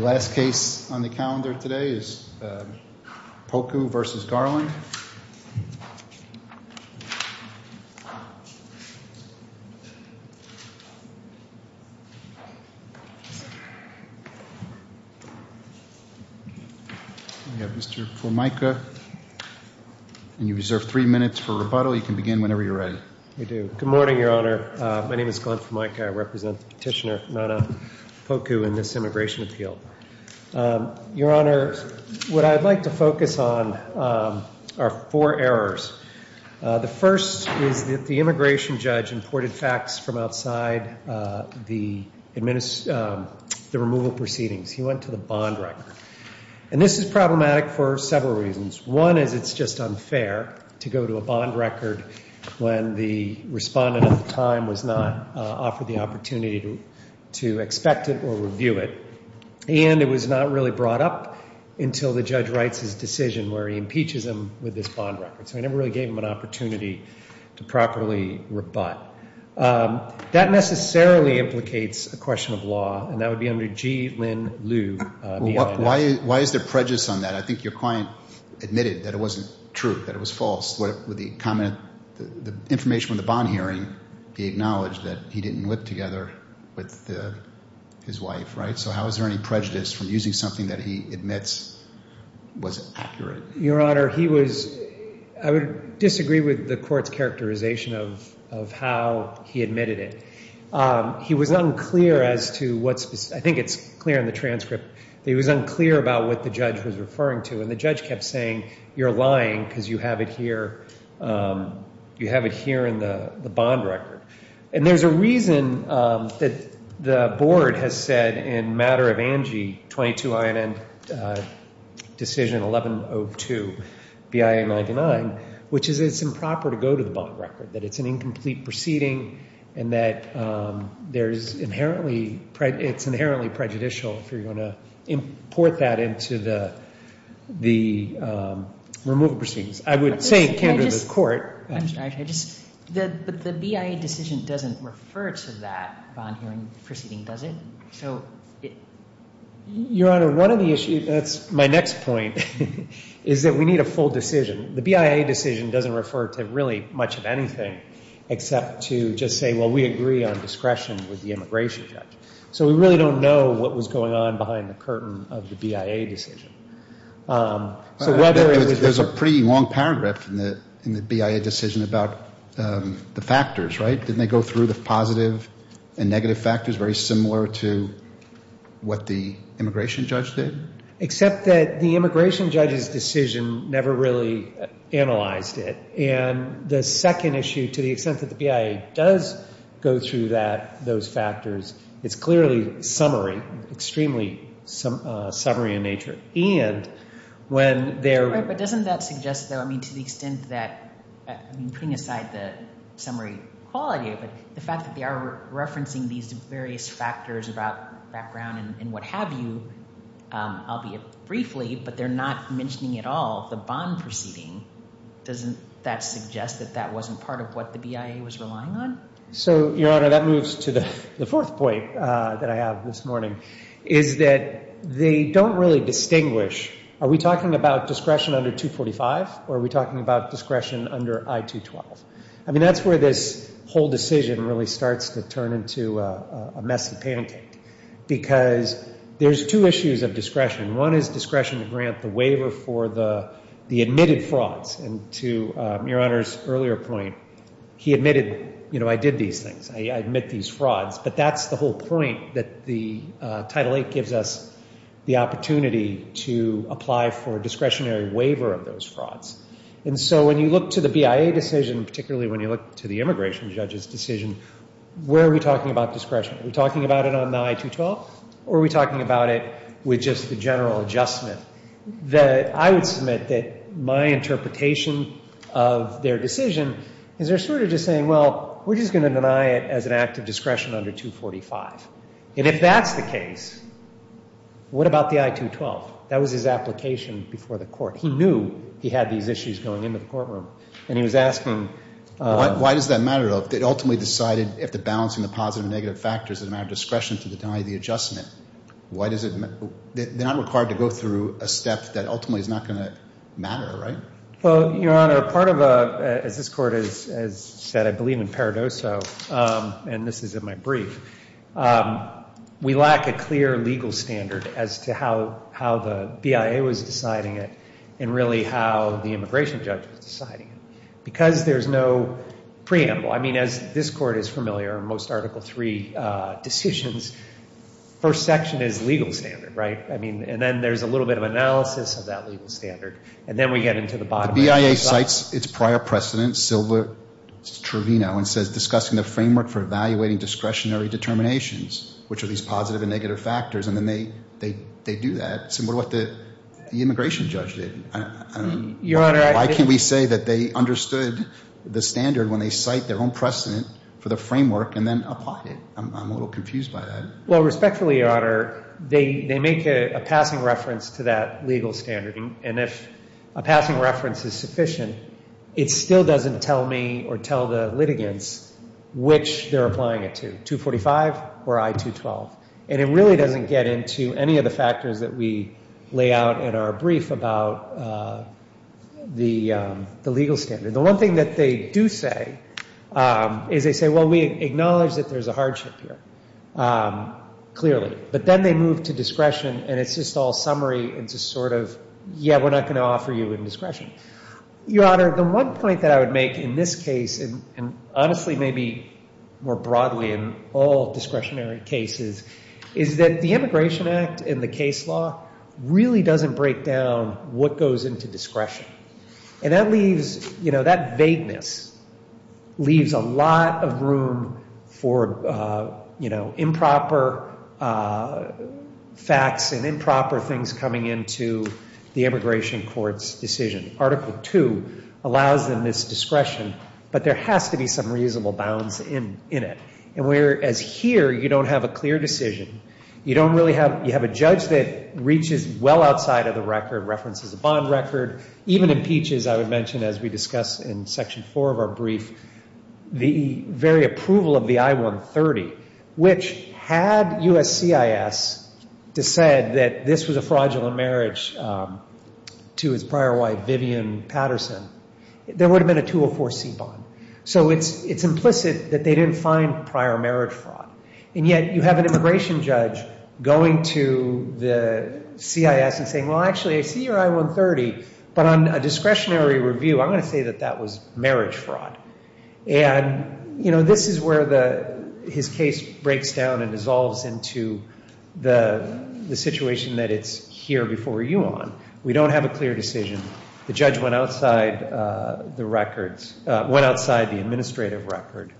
The last case on the calendar today is Poku v. Garland. Mr. Formica, you have three minutes for rebuttal. You can begin whenever you're ready. Good morning, Your Honor. My name is Glenn Formica. I represent Petitioner Nona Poku in this immigration appeal. Your Honor, what I'd like to focus on are four errors. The first is that the immigration judge imported facts from outside the removal proceedings. He went to the bond record. And this is problematic for several reasons. One is it's just unfair to go to a bond record when the respondent at the time was not offered the opportunity to expect it or review it. And it was not really brought up until the judge writes his decision where he impeaches him with this bond record. So I never really gave him an opportunity to properly rebut. That necessarily implicates a question of law, and that would be under G. Lynn Liu. Why is there prejudice on that? I think your client admitted that it wasn't true, that it was false. The information from the bond hearing gave knowledge that he didn't whip together with his wife, right? So how is there any prejudice from using something that he admits was accurate? Your Honor, I would disagree with the court's characterization of how he admitted it. He was unclear as to what's specific. I think it's clear in the transcript that he was unclear about what the judge was referring to. And the judge kept saying, you're lying because you have it here in the bond record. And there's a reason that the board has said in matter of ANGI 22INN decision 1102BIA99, which is it's improper to go to the bond record, that it's an incomplete proceeding, and that it's inherently prejudicial if you're going to import that into the removal proceedings. I would say it can't go to the court. I'm sorry. But the BIA decision doesn't refer to that bond hearing proceeding, does it? Your Honor, that's my next point, is that we need a full decision. The BIA decision doesn't refer to really much of anything except to just say, well, we agree on discretion with the immigration judge. So we really don't know what was going on behind the curtain of the BIA decision. There's a pretty long paragraph in the BIA decision about the factors, right? Didn't they go through the positive and negative factors very similar to what the immigration judge did? Except that the immigration judge's decision never really analyzed it. And the second issue, to the extent that the BIA does go through that, those factors, it's clearly summary, extremely summary in nature. And when they're- Right. But doesn't that suggest, though, I mean, to the extent that, I mean, putting aside the summary quality, but the fact that they are referencing these various factors about background and what have you, albeit briefly, but they're not mentioning at all the bond proceeding, doesn't that suggest that that wasn't part of what the BIA was relying on? So, Your Honor, that moves to the fourth point that I have this morning, is that they don't really distinguish. Are we talking about discretion under 245, or are we talking about discretion under I-212? I mean, that's where this whole decision really starts to turn into a messy pancake, because there's two issues of discretion. One is discretion to grant the waiver for the admitted frauds. And to Your Honor's earlier point, he admitted, you know, I did these things. I admit these frauds. But that's the whole point that the Title VIII gives us the opportunity to apply for a discretionary waiver of those frauds. And so when you look to the BIA decision, particularly when you look to the immigration judge's decision, where are we talking about discretion? Are we talking about it on the I-212, or are we talking about it with just the general adjustment? I would submit that my interpretation of their decision is they're sort of just saying, well, we're just going to deny it as an act of discretion under 245. And if that's the case, what about the I-212? That was his application before the court. He knew he had these issues going into the courtroom. And he was asking why does that matter, though? They ultimately decided after balancing the positive and negative factors, it's a matter of discretion to deny the adjustment. Why does it matter? They're not required to go through a step that ultimately is not going to matter, right? Well, Your Honor, part of a, as this Court has said, I believe in paradoso, and this is in my brief. We lack a clear legal standard as to how the BIA was deciding it and really how the immigration judge was deciding it. Because there's no preamble, I mean, as this Court is familiar, in most Article III decisions, first section is legal standard, right? I mean, and then there's a little bit of analysis of that legal standard, and then we get into the bottom. The BIA cites its prior precedent, Silva-Trovino, and says discussing the framework for evaluating discretionary determinations, which are these positive and negative factors, and then they do that. So what about what the immigration judge did? Why can't we say that they understood the standard when they cite their own precedent for the framework and then applied it? I'm a little confused by that. Well, respectfully, Your Honor, they make a passing reference to that legal standard, and if a passing reference is sufficient, it still doesn't tell me or tell the litigants which they're applying it to, 245 or I-212. And it really doesn't get into any of the factors that we lay out in our brief about the legal standard. The one thing that they do say is they say, well, we acknowledge that there's a hardship here, clearly. But then they move to discretion, and it's just all summary and just sort of, yeah, we're not going to offer you indiscretion. Your Honor, the one point that I would make in this case, and honestly maybe more broadly in all discretionary cases, is that the Immigration Act and the case law really doesn't break down what goes into discretion. And that vagueness leaves a lot of room for improper facts and improper things coming into the immigration court's decision. Article II allows them this discretion, but there has to be some reasonable bounds in it. And whereas here you don't have a clear decision, you have a judge that reaches well outside of the record, references a bond record, even impeaches, I would mention, as we discuss in Section 4 of our brief, the very approval of the I-130, which had USCIS said that this was a fraudulent marriage to his prior wife Vivian Patterson, there would have been a 204C bond. So it's implicit that they didn't find prior marriage fraud. And yet you have an immigration judge going to the CIS and saying, well, actually, I see your I-130, but on a discretionary review, I'm going to say that that was marriage fraud. And, you know, this is where his case breaks down and dissolves into the situation that it's here before you on. We don't have a clear decision. The judge went outside the records, went outside the administrative record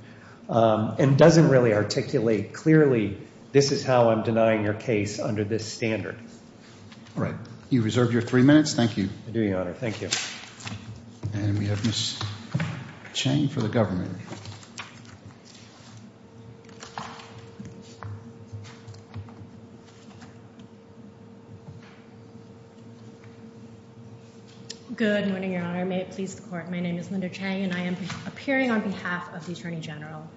and doesn't really articulate clearly this is how I'm denying your case under this standard. All right. You reserve your three minutes. I do, Your Honor. Thank you. And we have Ms. Chang for the government. Good morning, Your Honor. May it please the Court. My name is Linda Chang, and I am appearing on behalf of the Attorney General.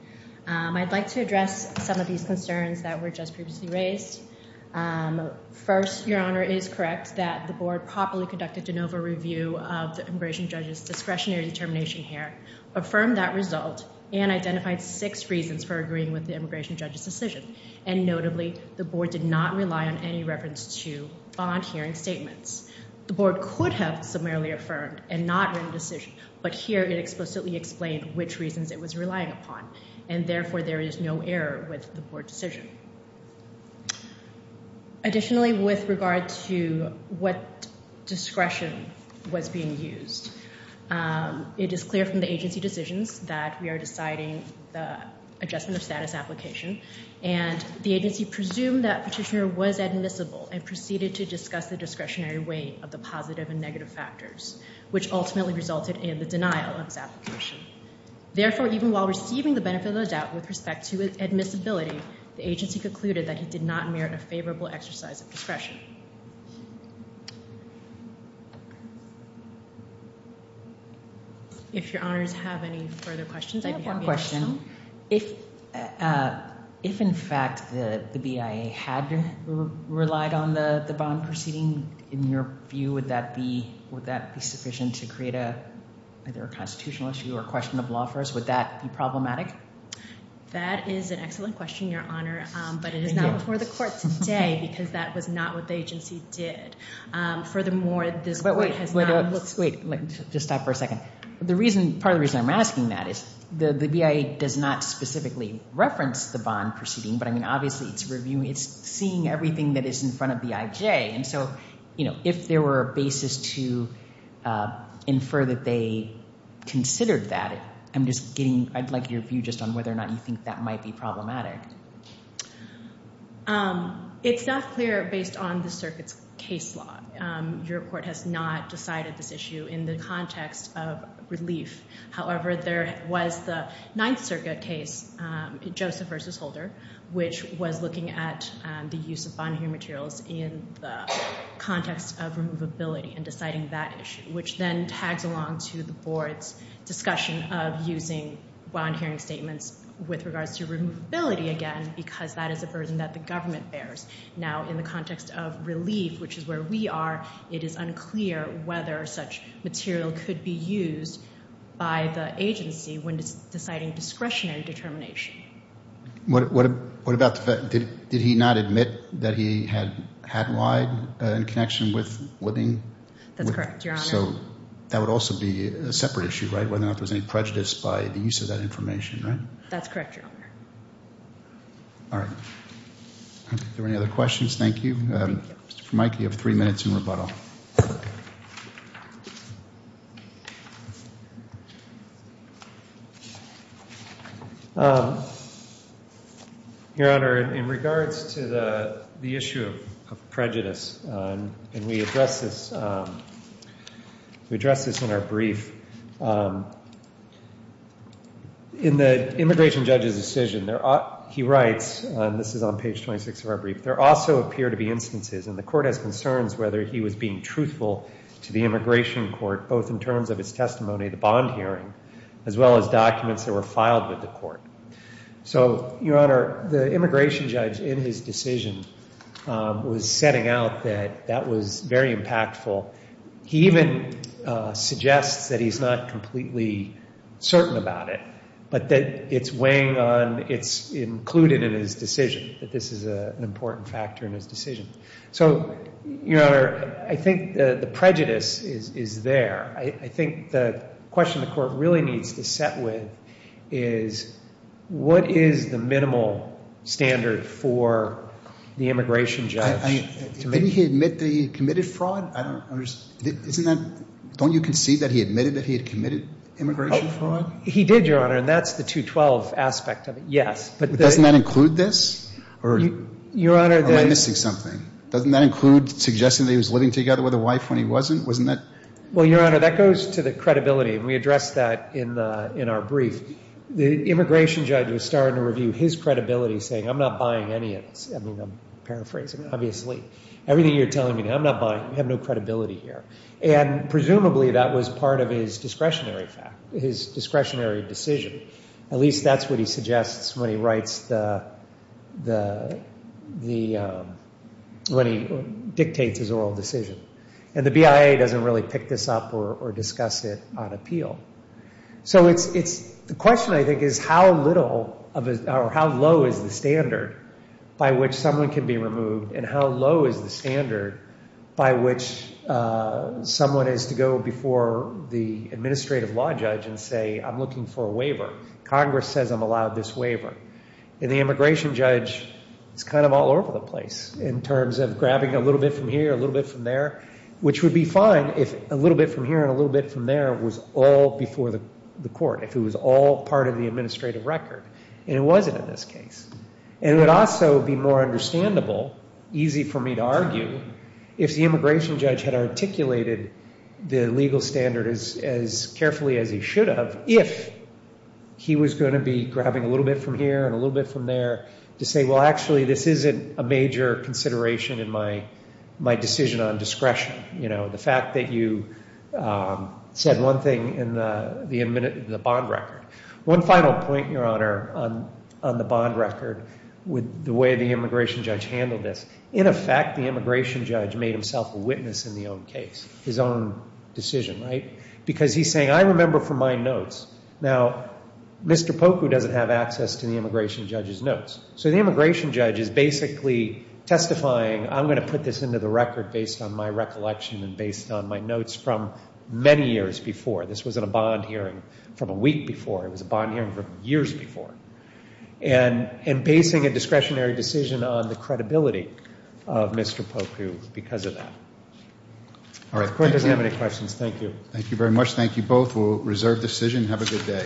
I'd like to address some of these concerns that were just previously raised. First, Your Honor, it is correct that the Board properly conducted de novo review of the immigration judge's discretionary determination here, affirmed that result, and identified six reasons for agreeing with the immigration judge's decision. And notably, the Board did not rely on any reference to bond hearing statements. The Board could have summarily affirmed and not written a decision, but here it explicitly explained which reasons it was relying upon, and therefore there is no error with the Board decision. Additionally, with regard to what discretion was being used, it is clear from the agency decisions that we are deciding the adjustment of status application, and the agency presumed that Petitioner was admissible and proceeded to discuss the discretionary weight of the positive and negative factors, which ultimately resulted in the denial of his application. Therefore, even while receiving the benefit of the doubt with respect to admissibility, the agency concluded that he did not merit a favorable exercise of discretion. If Your Honors have any further questions, I'd be happy to answer some. I have one question. If, in fact, the BIA had relied on the bond proceeding, in your view, would that be sufficient to create either a constitutional issue or a question of law for us? Would that be problematic? That is an excellent question, Your Honor, but it is not before the Court today because that was not what the agency did. Furthermore, this Court has not- Wait, just stop for a second. Part of the reason I'm asking that is the BIA does not specifically reference the bond proceeding, but, I mean, obviously it's seeing everything that is in front of the IJ, and so if there were a basis to infer that they considered that, I'm just getting- I'd like your view just on whether or not you think that might be problematic. It's not clear based on the circuit's case law. Your Court has not decided this issue in the context of relief. However, there was the Ninth Circuit case, Joseph v. Holder, which was looking at the use of bond-hearing materials in the context of removability and deciding that issue, which then tags along to the Board's discussion of using bond-hearing statements with regards to removability again because that is a burden that the government bears. Now, in the context of relief, which is where we are, it is unclear whether such material could be used by the agency when deciding discretionary determination. What about the fact- did he not admit that he had had lied in connection with living with- That's correct, Your Honor. So that would also be a separate issue, right, whether or not there's any prejudice by the use of that information, right? That's correct, Your Honor. All right. Are there any other questions? Thank you. Mr. Vermike, you have three minutes in rebuttal. Your Honor, in regards to the issue of prejudice, and we addressed this in our brief, in the immigration judge's decision, he writes, and this is on page 26 of our brief, there also appear to be instances, and the court has concerns whether he was being truthful to the immigration court, both in terms of his testimony, the bond hearing, as well as documents that were filed with the court. So, Your Honor, the immigration judge in his decision was setting out that that was very impactful. He even suggests that he's not completely certain about it, but that it's weighing on- it's included in his decision, that this is an important factor in his decision. So, Your Honor, I think the prejudice is there. I think the question the court really needs to set with is what is the minimal standard for the immigration judge to make- Did he admit that he committed fraud? I don't understand. Isn't that- don't you concede that he admitted that he had committed immigration fraud? He did, Your Honor, and that's the 212 aspect of it, yes. But doesn't that include this? Or am I missing something? Doesn't that include suggesting that he was living together with a wife when he wasn't? Wasn't that- Well, Your Honor, that goes to the credibility, and we addressed that in our brief. The immigration judge was starting to review his credibility, saying, I'm not buying any of this. I mean, I'm paraphrasing, obviously. Everything you're telling me now, I'm not buying. We have no credibility here. And presumably, that was part of his discretionary fact, his discretionary decision. At least that's what he suggests when he writes the- when he dictates his oral decision. And the BIA doesn't really pick this up or discuss it on appeal. So it's- the question, I think, is how little or how low is the standard by which someone can be removed and how low is the standard by which someone is to go before the administrative law judge and say, I'm looking for a waiver. Congress says I'm allowed this waiver. And the immigration judge is kind of all over the place in terms of grabbing a little bit from here, a little bit from there, which would be fine if a little bit from here and a little bit from there was all before the court, if it was all part of the administrative record. And it wasn't in this case. And it would also be more understandable, easy for me to argue, if the immigration judge had articulated the legal standard as carefully as he should have, if he was going to be grabbing a little bit from here and a little bit from there to say, well, actually, this isn't a major consideration in my decision on discretion. You know, the fact that you said one thing in the bond record. One final point, Your Honor, on the bond record with the way the immigration judge handled this. In effect, the immigration judge made himself a witness in the own case, his own decision, right? Because he's saying, I remember from my notes. Now, Mr. Poku doesn't have access to the immigration judge's notes. So the immigration judge is basically testifying, I'm going to put this into the record based on my recollection and based on my notes from many years before. This wasn't a bond hearing from a week before. It was a bond hearing from years before. And basing a discretionary decision on the credibility of Mr. Poku because of that. The court doesn't have any questions. Thank you. Thank you very much. Thank you both. We'll reserve decision. Have a good day.